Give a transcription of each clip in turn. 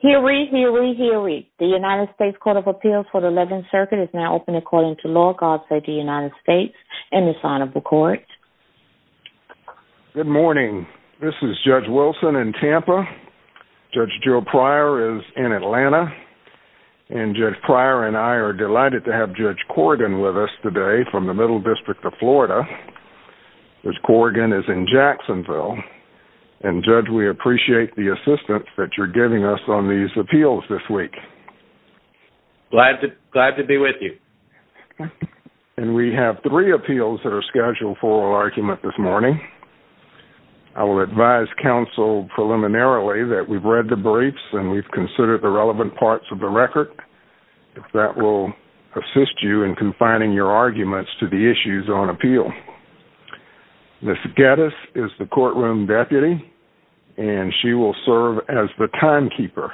Hear ye, hear ye, hear ye. The United States Court of Appeals for the 11th Circuit is now open according to law. God save the United States and the sign of the court. Good morning. This is Judge Wilson in Tampa. Judge Joe Pryor is in Atlanta and Judge Pryor and I are delighted to have Judge Corrigan with us today from the Middle District of Florida. Judge Corrigan is in Jacksonville and Judge we appreciate the assistance that you're giving us on these appeals this week. Glad to be with you. And we have three appeals that are scheduled for oral argument this morning. I will advise counsel preliminarily that we've read the briefs and we've considered the relevant parts of the record. That will assist you in confining your arguments to the issues on appeal. Ms. Geddes is the courtroom deputy and she will serve as the timekeeper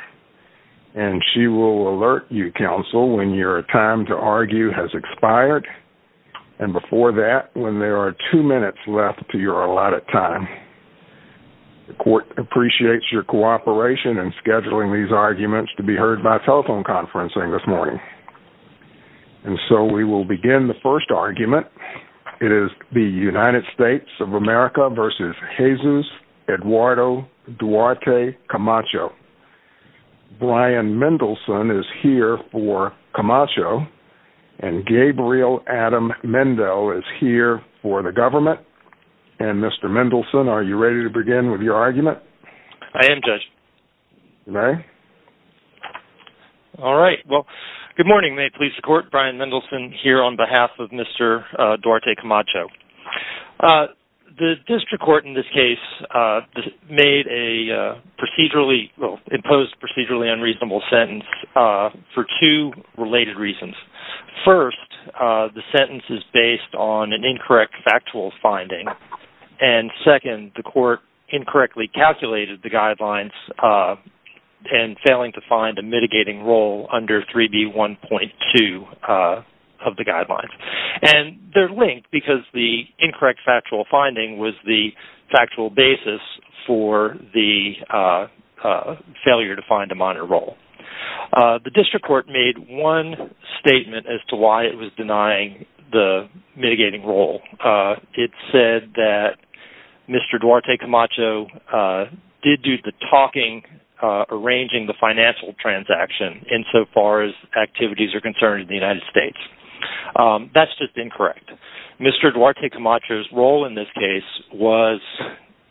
and she will alert you counsel when your time to argue has expired and before that when there are two minutes left to your allotted time. The court appreciates your cooperation in scheduling these arguments to be heard by telephone conferencing this morning. And so we will begin the first argument. It is the United States of America versus Jesus Eduardo Duarte Camacho. Brian Mendelson is here for Camacho and Gabriel Adam Mendel is here for the government. And Mr. Mendelson are you ready to your argument? I am judge. You may. All right well good morning may it please the court Brian Mendelson here on behalf of Mr. Duarte Camacho. The district court in this case made a procedurally well imposed procedurally unreasonable sentence for two related reasons. First the sentence is on an incorrect factual finding and second the court incorrectly calculated the guidelines and failing to find a mitigating role under 3b 1.2 of the guidelines. And they're linked because the incorrect factual finding was the factual basis for the failure to find a minor role. The district court made one statement as to why it was denying the mitigating role. It said that Mr. Duarte Camacho did do the talking arranging the financial transaction insofar as activities are concerned in the United States. That's just incorrect. Mr. Duarte Camacho's role in this case was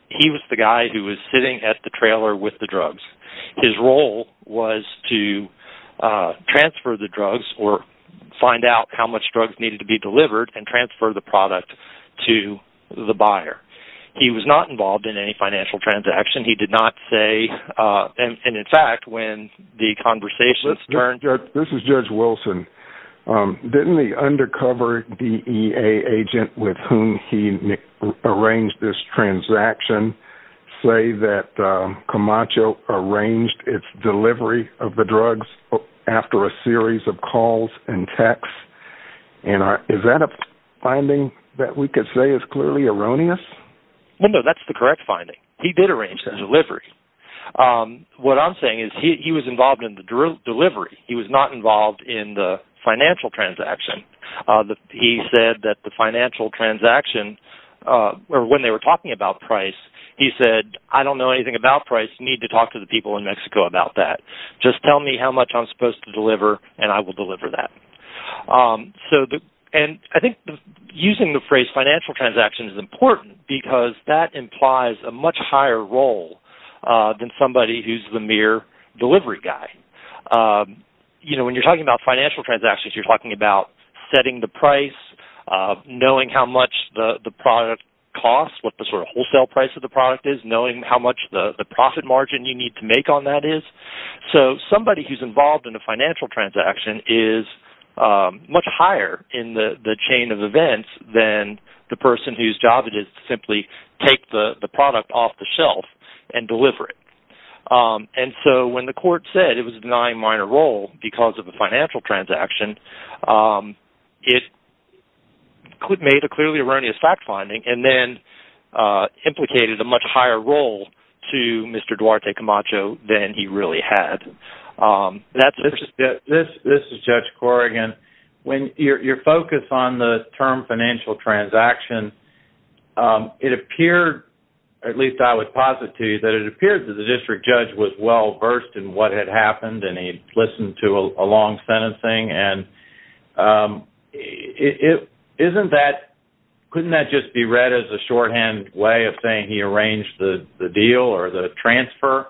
he was the guy who was sitting at the trailer with the drugs. His role was to transfer the drugs or find out how much drugs needed to be delivered and transfer the product to the buyer. He was not involved in any financial transaction. He did not say and in fact when the conversations turned. This is Judge Wilson. Didn't the undercover DEA agent with whom he arranged this transaction say that Camacho arranged its delivery of the drugs after a series of calls and texts? And is that a finding that we could say is clearly erroneous? No that's the correct finding. He did not involve in the financial transaction. He said that the financial transaction when they were talking about price he said I don't know anything about price. I need to talk to the people in Mexico about that. Just tell me how much I'm supposed to deliver and I will deliver that. I think using the phrase financial transaction is important because that implies a higher role than somebody who is the mere delivery guy. When you're talking about financial transactions you're talking about setting the price, knowing how much the product costs, what the wholesale price of the product is, knowing how much the profit margin you need to make on that is. Somebody who is involved in a financial transaction is much higher in the chain of events than the person whose job it is to simply take the product off the shelf and deliver it. And so when the court said it was a denying minor role because of a financial transaction it made a clearly erroneous fact finding and then implicated a much higher role to Mr. Duarte term financial transaction. It appeared at least I would posit to you that it appeared that the district judge was well versed in what had happened and he listened to a long sentencing and isn't that couldn't that just be read as a shorthand way of saying he arranged the deal or the transfer?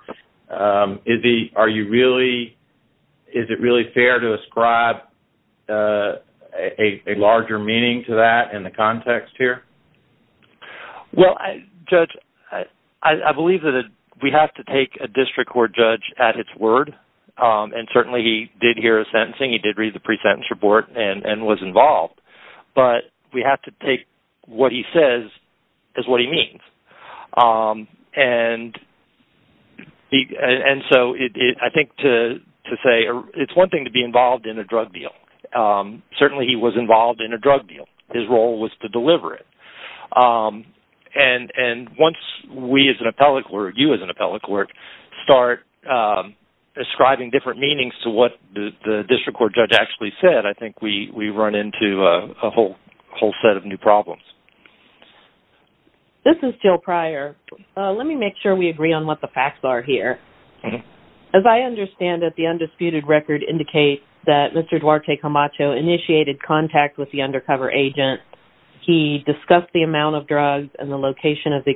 Is it really fair to ascribe a larger meaning to that in the context here? Well, Judge, I believe that we have to take a district court judge at its word and certainly he did hear a sentencing. He did read the pre-sentence report and was involved but we have to take what he says as what he means. And so I think to say it's one thing to be involved in a drug deal. Certainly he was involved in a drug deal. His role was to deliver it. And once we as an appellate court, you as an appellate court start ascribing different meanings to what the district court judge actually said, I think we run into a whole set of new problems. This is Jill Pryor. Let me make sure we agree on what the facts are here. As I understand that the undisputed record indicates that Mr. Duarte Camacho initiated contact with the undercover agent. He discussed the amount of drugs and the location of the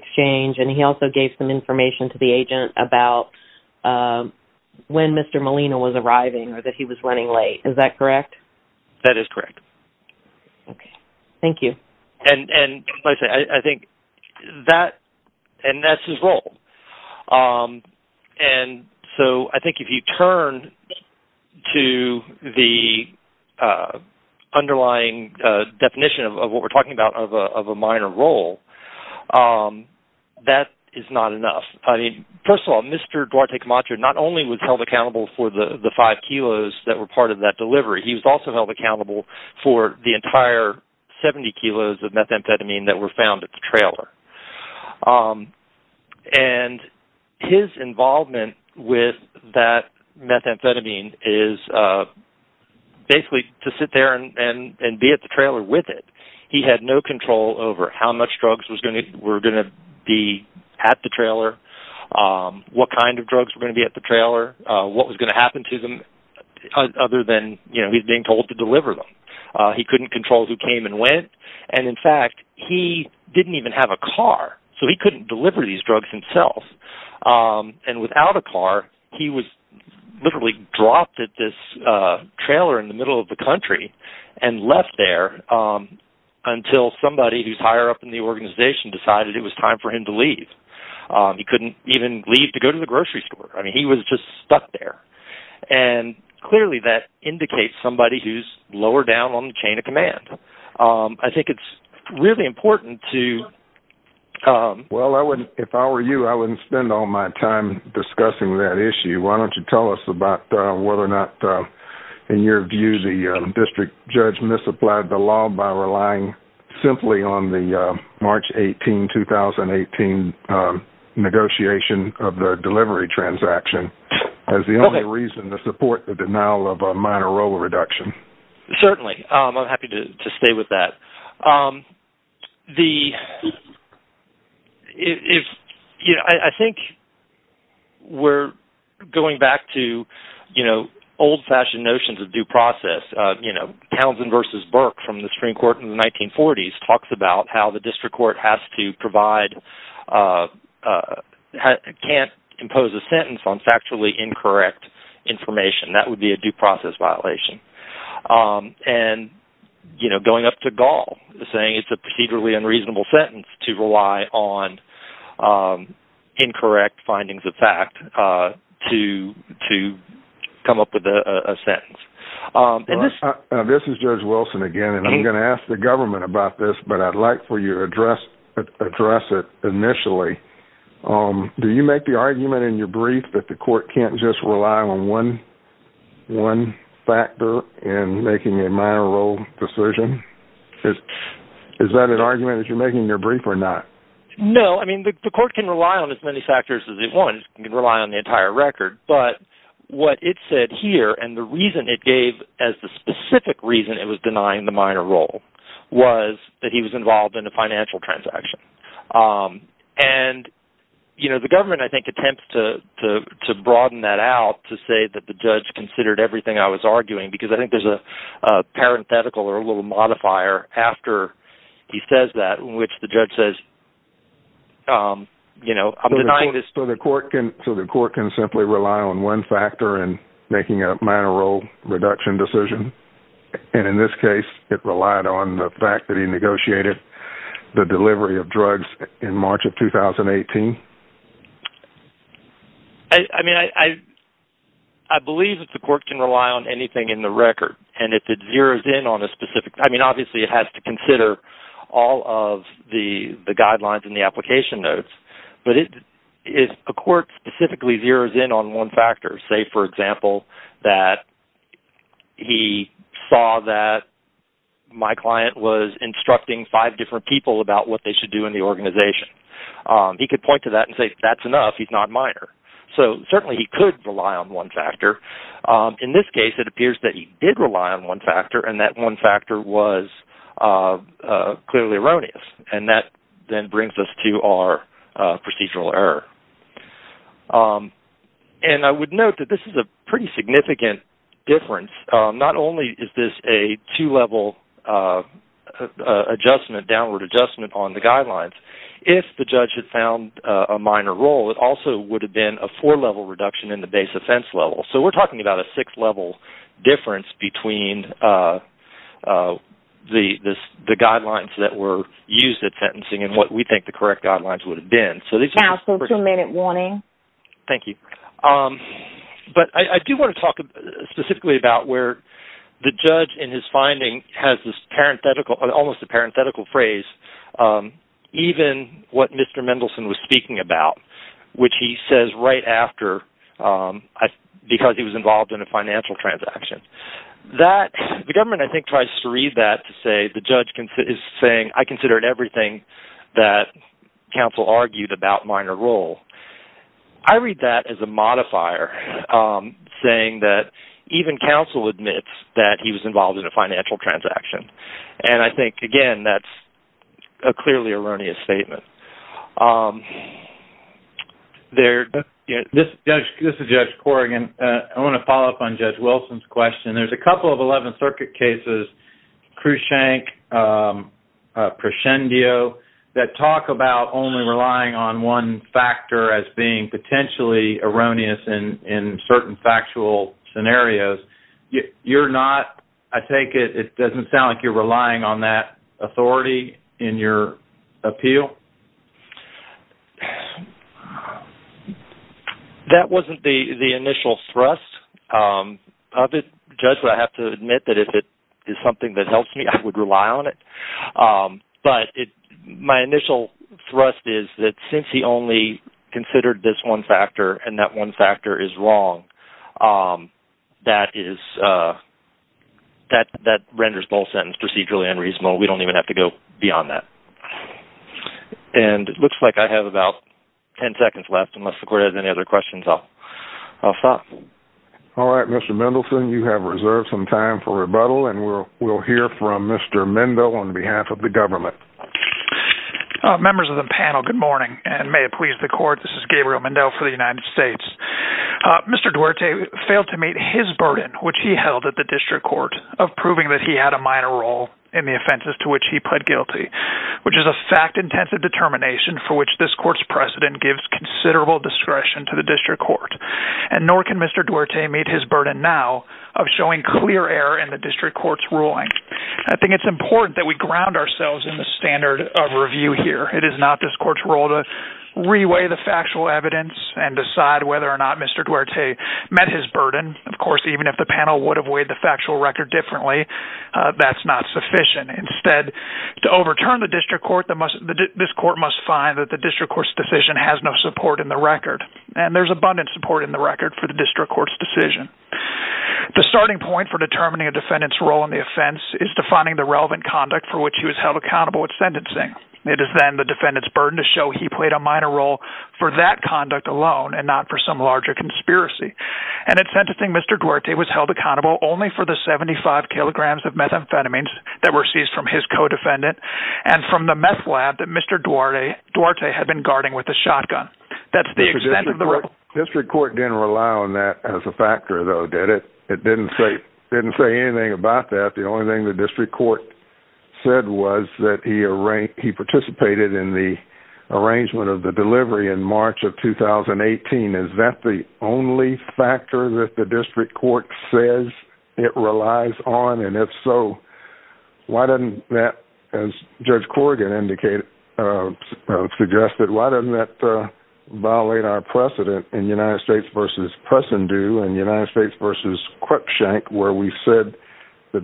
arriving or that he was running late. Is that correct? That is correct. Okay. Thank you. And I think that's his role. And so I think if you turn to the underlying definition of what we're talking about of a minor role, that is not enough. First of all, Mr. Duarte Camacho not only was held accountable for the five kilos that were part of that delivery, he was also held accountable for the entire 70 kilos of methamphetamine that were found at the trailer. And his involvement with that methamphetamine is basically to sit there and be at the trailer with it. He had no control over how much drugs were going to be at the trailer, what kind of drugs were going to be at the trailer, what was going to happen to them other than he's being told to deliver them. He couldn't control who came and went. And in fact, he didn't even have a car, so he couldn't deliver these drugs himself. And without a car, he was literally dropped at this trailer in the middle of the country and left there until somebody who's higher up in the organization decided it was time for him to even leave to go to the grocery store. I mean, he was just stuck there. And clearly that indicates somebody who's lower down on the chain of command. I think it's really important to... Well, if I were you, I wouldn't spend all my time discussing that issue. Why don't you tell us about whether or not, in your view, the district judge misapplied the law by relying simply on the March 18, 2018 negotiation of the delivery transaction as the only reason to support the denial of a minor role reduction. Certainly. I'm happy to stay with that. I think we're going back to old-fashioned notions of due process. Townsend versus Burke from the Supreme Court in the 1940s talks about how the district court has to provide... Can't impose a sentence on factually incorrect information. That would be a due process violation. And going up to Gall, saying it's a procedurally unreasonable sentence to rely on incorrect findings of fact to come up with a sentence. And this... This is Judge Wilson again, and I'm going to ask the government about this, but I'd like for you to address it initially. Do you make the argument in your brief that the court can't just rely on one factor in making a minor role decision? Is that an argument that you're making in your brief or not? No. I mean, the court can rely on as many factors as it wants. It can rely on the entire record, but what it said here and the reason it gave as the specific reason it was denying the minor role was that he was involved in a financial transaction. And the government, I think, attempts to broaden that out to say that the judge considered everything I was arguing, because I think there's a parenthetical or a little modifier after he says that in which the on one factor in making a minor role reduction decision. And in this case, it relied on the fact that he negotiated the delivery of drugs in March of 2018. I mean, I believe that the court can rely on anything in the record. And if it zeros in on a specific... I mean, obviously, it has to consider all of the guidelines in the application notes, but if a court specifically zeros in on one factor, say, for example, that he saw that my client was instructing five different people about what they should do in the organization, he could point to that and say, that's enough, he's not minor. So certainly, he could rely on one factor. In this case, it appears that he did rely on one factor and that one factor was clearly erroneous. And that then brings us to our procedural error. And I would note that this is a pretty significant difference. Not only is this a two-level adjustment, downward adjustment on the guidelines, if the judge had found a minor role, it also would have been a four-level reduction in the base offense level. So we're talking about a six-level difference between the guidelines that were used at sentencing and what we think the correct guidelines would have been. So these are... Now, so two-minute warning. Thank you. But I do want to talk specifically about where the judge, in his finding, has this parenthetical, almost a parenthetical phrase, even what Mr. Mendelson was speaking about, which he says right after, because he was involved in a financial transaction. The government, I think, tries to read that to say, the judge is saying, I considered everything that counsel argued about minor role. I read that as a modifier, saying that even counsel admits that he was involved in a financial transaction. And I think again, that's a clearly erroneous statement. This is Judge Corrigan. I want to follow up on Judge Wilson's question. There's a couple of 11th Circuit cases, Crushank, Prescendio, that talk about only relying on one factor as being potentially erroneous in certain factual scenarios. You're not, I take it, it doesn't sound like you're relying on that authority in your appeal? That wasn't the initial thrust of it. Judge, I have to admit that if it is something that helps me, I would rely on it. But my initial thrust is that since he only considered this one factor, and that one factor is wrong, that renders both sentences procedurally unreasonable. We don't even have to go beyond that. And it looks like I have about 10 seconds left, unless the court has any other questions. I'll stop. All right, Mr. Mendelson, you have reserved some time for rebuttal. And we'll hear from Mr. Mendo on behalf of the government. Members of the panel, good morning, and may it please the court. This is Gabriel Mendel for the United States. Mr. Duarte failed to meet his burden, which he held at the district court, of proving that he had a minor role in the offenses to which he pled guilty, which is a fact-intensive determination for which this court's precedent gives considerable discretion to the district court. And nor can Mr. Duarte meet his burden now of showing clear error in the district court's ruling. I think it's important that we ground ourselves in the standard of review here. It is not this court's role to reweigh the factual evidence and decide whether or not Mr. Duarte met his burden. Of course, even if the panel would have weighed the factual record differently, that's not sufficient. Instead, to overturn the district court, this court must find that the district court's decision has no support in the record. And there's abundant support in the record for the district court's decision. The starting point for determining a defendant's role in the offense is defining the relevant conduct for which he was held accountable at sentencing. It is then the defendant's burden to show he played a minor role for that conduct alone and not for some larger conspiracy. And at sentencing, Mr. Duarte was held accountable only for the 75 kilograms of methamphetamines that were seized from his co-defendant and from the meth lab that Mr. Duarte had been guarding with a shotgun. That's the extent of the rule. District court didn't rely on that as a factor, though, did it? It didn't say anything about that. The only thing the district court said was that he participated in the arrangement of the delivery in March of 2018. Is that the only factor that the district court says it relies on? And if so, why doesn't that, as Judge Corrigan suggested, why doesn't that violate our precedent in United States?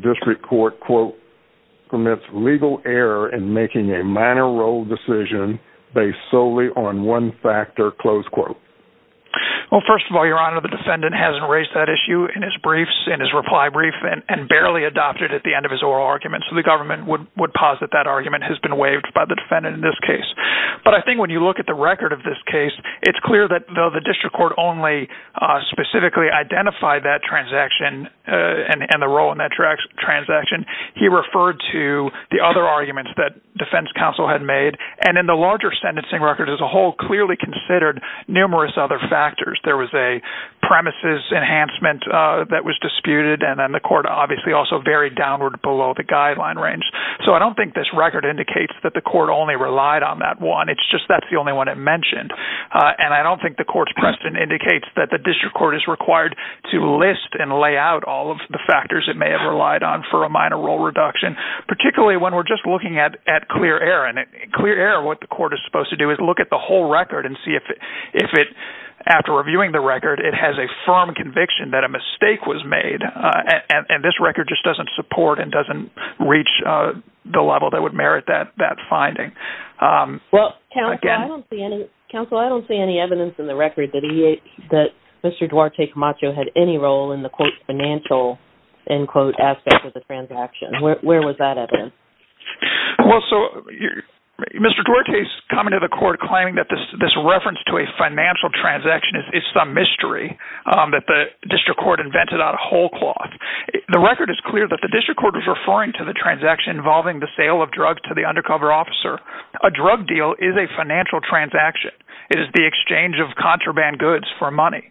District court, quote, permits legal error in making a minor role decision based solely on one factor, close quote. Well, first of all, Your Honor, the defendant hasn't raised that issue in his briefs, in his reply brief, and barely adopted it at the end of his oral argument. So the government would posit that argument has been waived by the defendant in this case. But I think when you look at the record of this case, it's clear that though the district court specifically identified that transaction and the role in that transaction, he referred to the other arguments that defense counsel had made. And in the larger sentencing record as a whole, clearly considered numerous other factors. There was a premises enhancement that was disputed. And then the court obviously also varied downward below the guideline range. So I don't think this record indicates that the court only relied on that one. It's just that's the only one it that the district court is required to list and lay out all of the factors it may have relied on for a minor role reduction, particularly when we're just looking at clear error. And clear error, what the court is supposed to do is look at the whole record and see if it, after reviewing the record, it has a firm conviction that a mistake was made. And this record just doesn't support and doesn't reach the level that would merit that finding. Well, counsel, I don't see any evidence in the record that Mr. Duarte Camacho had any role in the quote financial end quote aspect of the transaction. Where was that evidence? Well, so Mr. Duarte's coming to the court claiming that this reference to a financial transaction is some mystery that the district court invented out of whole cloth. The record is clear that the district court was referring to the transaction involving the sale of drugs to the undercover officer. A drug deal is a financial transaction. It is the exchange of contraband goods for money.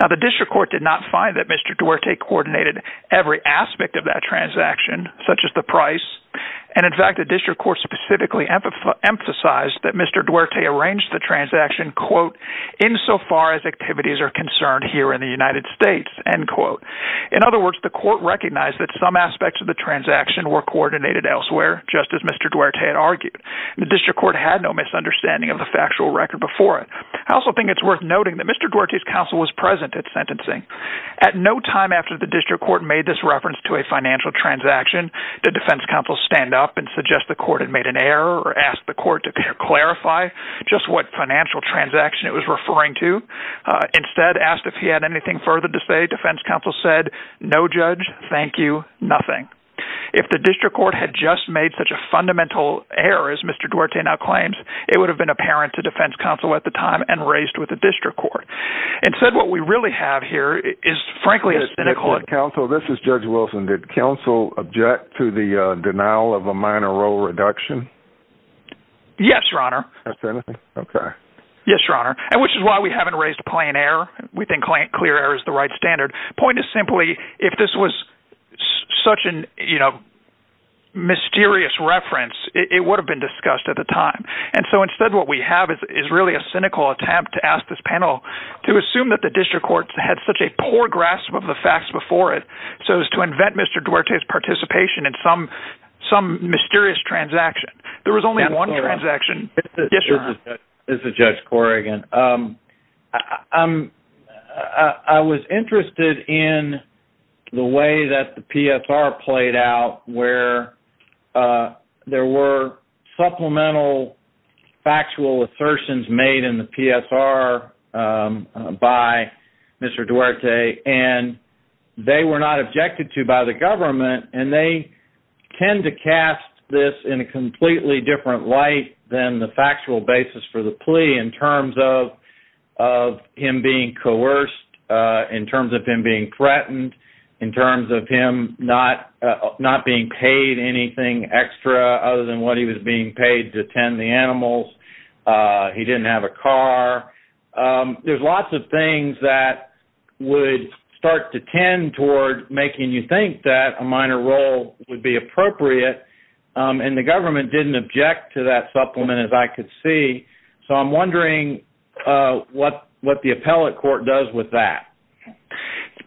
Now, the district court did not find that Mr. Duarte coordinated every aspect of that transaction, such as the price. And in fact, the district court specifically emphasized that Mr. Duarte arranged the transaction, quote, insofar as activities are concerned here in the United States, end quote. In other words, the court recognized that some aspects of the transaction were coordinated elsewhere, just as Mr. Duarte had argued. The district court had no misunderstanding of the factual record before it. I also think it's worth noting that Mr. Duarte's counsel was present at sentencing. At no time after the district court made this reference to a financial transaction, the defense counsel stand up and suggest the court had made an error or ask the court to clarify just what financial transaction it was referring to. Instead, asked if he had anything further to say, defense counsel said, no, judge, thank you, nothing. If the district court had just made such a fundamental error as Mr. Duarte now claims, it would have been apparent to defense counsel at the time and raised with the district court. Instead, what we really have here is frankly a cynical counsel. This is Judge Wilson. Did counsel object to the denial of a minor role reduction? Yes, your honor. Yes, your honor. And which is why we haven't raised a plain error. We think clear error is the right standard. Point is simply, if this was such a mysterious reference, it would have been discussed at the time. And so instead what we have is really a cynical attempt to ask this panel to assume that the district court had such a poor grasp of the facts before it, so as to invent Mr. Duarte's participation in some mysterious transaction. There was only one transaction. This is Judge Corrigan. I was interested in the way that the PSR played out where there were supplemental factual assertions made in the PSR by Mr. Duarte, and they were not objected to by the government, and they tend to cast this in a completely different light than the factual basis for the plea in terms of him being coerced, in terms of him being threatened, in terms of him not being paid anything extra other than what he was being paid to tend the animals. He didn't have a car. There's lots of things that would start to tend toward making you think that a minor role would appropriate, and the government didn't object to that supplement, as I could see. So I'm wondering what the appellate court does with that.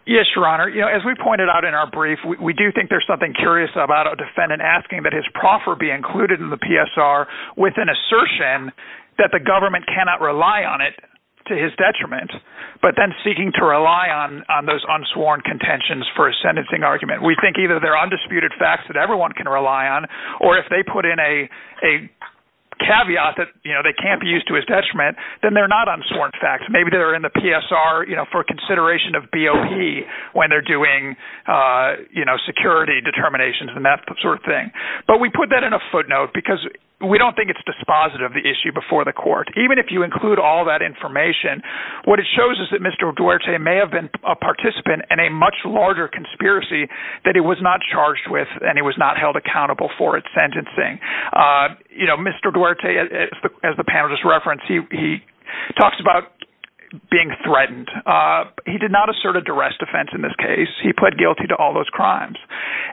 Yes, Your Honor. As we pointed out in our brief, we do think there's something curious about a defendant asking that his proffer be included in the PSR with an assertion that the government cannot rely on it to his detriment, but then seeking to rely on those unsworn contentions for a sentencing argument. We think either they're undisputed facts that everyone can rely on, or if they put in a caveat that they can't be used to his detriment, then they're not unsworn facts. Maybe they're in the PSR for consideration of BOP when they're doing security determinations and that sort of thing. But we put that in a footnote because we don't think it's dispositive, the issue before the court. Even if you include all that information, what it shows is that Mr. Duarte has a larger conspiracy that he was not charged with and he was not held accountable for its sentencing. Mr. Duarte, as the panelist referenced, he talks about being threatened. He did not assert a duress defense in this case. He pled guilty to all those crimes.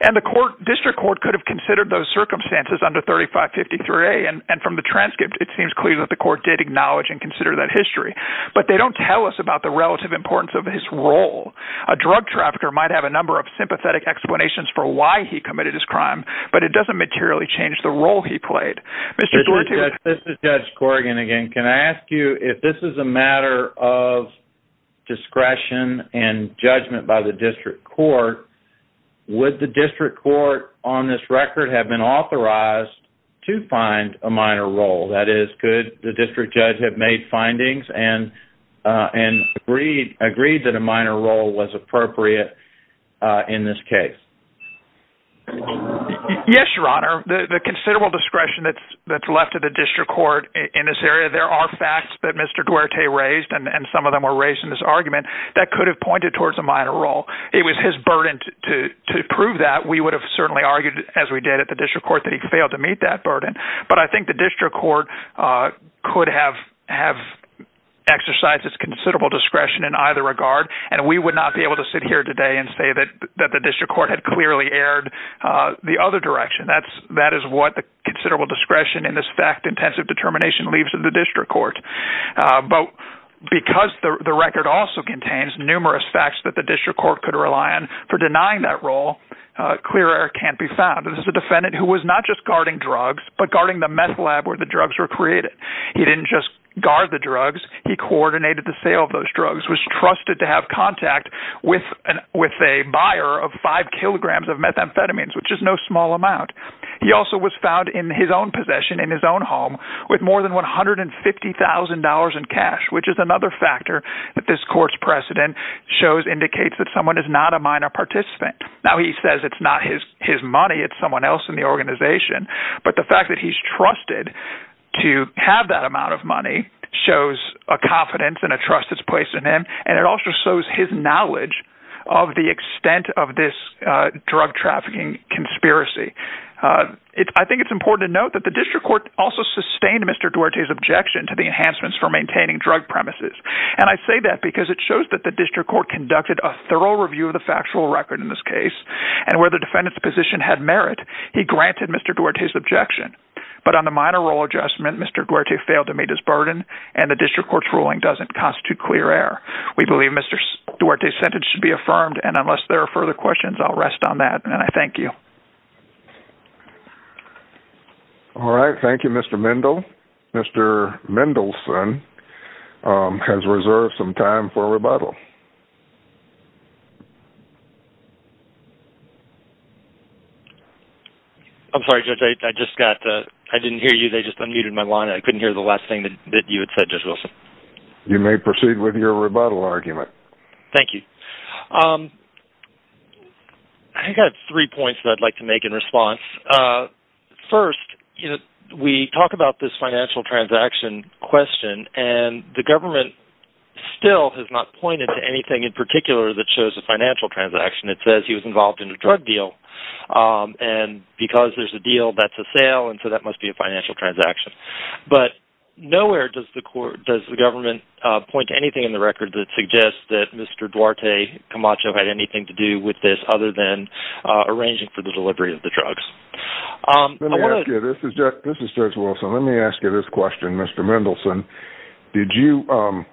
And the district court could have considered those circumstances under 3553A, and from the transcript, it seems clear that the court did acknowledge and consider that history. But they don't tell us about the relative importance of his role. A drug trafficker might have a number of sympathetic explanations for why he committed his crime, but it doesn't materially change the role he played. This is Judge Corrigan again. Can I ask you, if this is a matter of discretion and judgment by the district court, would the district court on this record have been authorized to find a minor role? That is, could the district judge have made findings and agreed that a minor role was appropriate in this case? Yes, Your Honor. The considerable discretion that's left to the district court in this area, there are facts that Mr. Duarte raised, and some of them were raised in this argument, that could have pointed towards a minor role. It was his burden to prove that. We would have certainly argued, as we did at the district court, that he failed to meet that burden. But I think the district court could have exercised its considerable discretion in either regard, and we would not be able to sit here today and say that the district court had clearly erred the other direction. That is what the considerable discretion in this fact-intensive determination leaves to the district court. But because the record also contains numerous facts that the district court could rely on for denying that role, clear error can't be found. This is a meth lab where the drugs were created. He didn't just guard the drugs. He coordinated the sale of those drugs, was trusted to have contact with a buyer of five kilograms of methamphetamines, which is no small amount. He also was found in his own possession, in his own home, with more than $150,000 in cash, which is another factor that this court's precedent shows indicates that someone is not a minor participant. Now, he says it's not his money, it's someone else in the organization. But the fact that he's trusted to have that amount of money shows a confidence and a trust that's placed in him, and it also shows his knowledge of the extent of this drug trafficking conspiracy. I think it's important to note that the district court also sustained Mr. Duarte's objection to the enhancements for maintaining drug premises. And I say that because it shows that the district court conducted a thorough review of the factual record in this case, and where the defendant's position had merit, he granted Mr. Duarte's objection. But on the minor role adjustment, Mr. Duarte failed to meet his burden, and the district court's ruling doesn't constitute clear error. We believe Mr. Duarte's sentence should be affirmed, and unless there are further questions, I'll rest on that, and I thank you. All right, thank you, Mr. Mendel. Mr. Mendelson has reserved some time for rebuttal. I'm sorry, Judge, I just got, I didn't hear you, they just unmuted my line, I couldn't hear the last thing that you had said, Judge Wilson. You may proceed with your rebuttal argument. Thank you. I've got three points that I'd like to make in response. First, we talk about this financial transaction question, and the government still has not pointed to anything in particular that shows a financial transaction. It says he was involved in a drug deal, and because there's a deal, that's a sale, and so that must be a financial transaction. But nowhere does the government point to anything in the record that suggests that Mr. Duarte Camacho had anything to do with this other than arranging for the delivery of the drugs. Let me ask you, this is Judge Wilson, let me ask you this question, Mr. Mendelson. Did you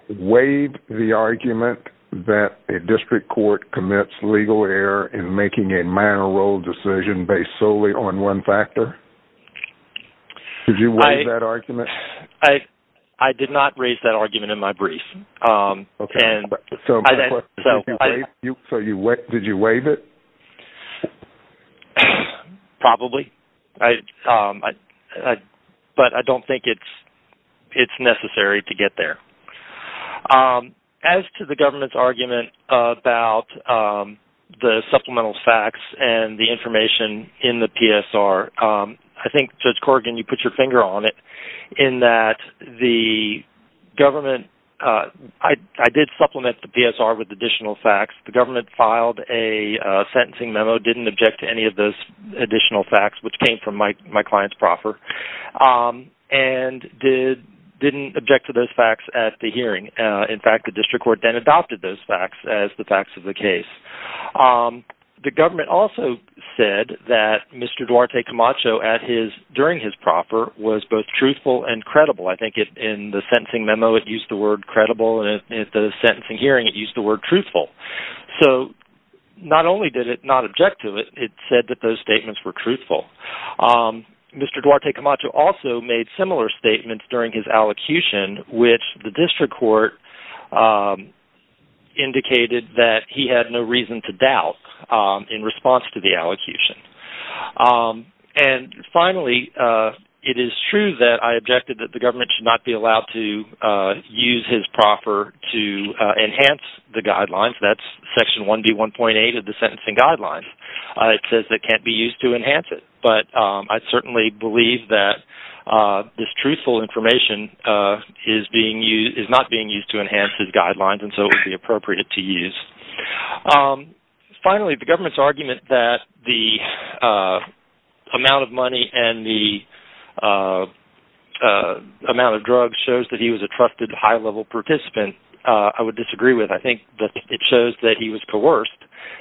waive the argument that a district court commits legal error in making a minor role decision based solely on one factor? Did you waive it? Probably, but I don't think it's necessary to get there. As to the government's argument about the supplemental facts and the information in the PSR, I think, Judge Corrigan, you put your finger on it, in that I did supplement the PSR with additional facts. The government filed a sentencing memo, didn't object to any of those additional facts, which came from my client's proffer, and didn't object to those facts at the hearing. In fact, the district court then adopted those facts as the facts of the case. The government also said that Mr. Duarte Camacho during his proffer was both truthful and credible. I think in the sentencing memo it used the word credible, and in the sentencing hearing it used the word truthful. So not only did it not object to it, it said that those statements were truthful. Mr. Duarte Camacho also made similar statements during his allocution, which the district court indicated that he had no reason to doubt in response to the allocution. Finally, it is true that I objected that the government should not be allowed to use his proffer to enhance the guidelines. That's section 1B1.8 of the sentencing guidelines. It says it can't be used to enhance it, but I certainly believe that this truthful information is not being used to enhance his guidelines, and so it would be appropriate to use. Finally, the government's argument that the amount of money and the amount of drugs shows that he was a trusted high-level participant, I would disagree with. I think that it shows that he was coerced,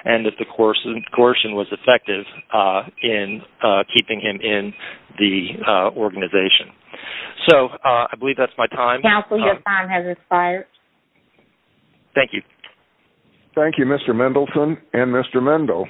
and that the coercion was effective in keeping him in the organization. So I believe that's my time. Counsel, your time has expired. Thank you. Thank you, Mr. Mendelson and Mr. Mendo.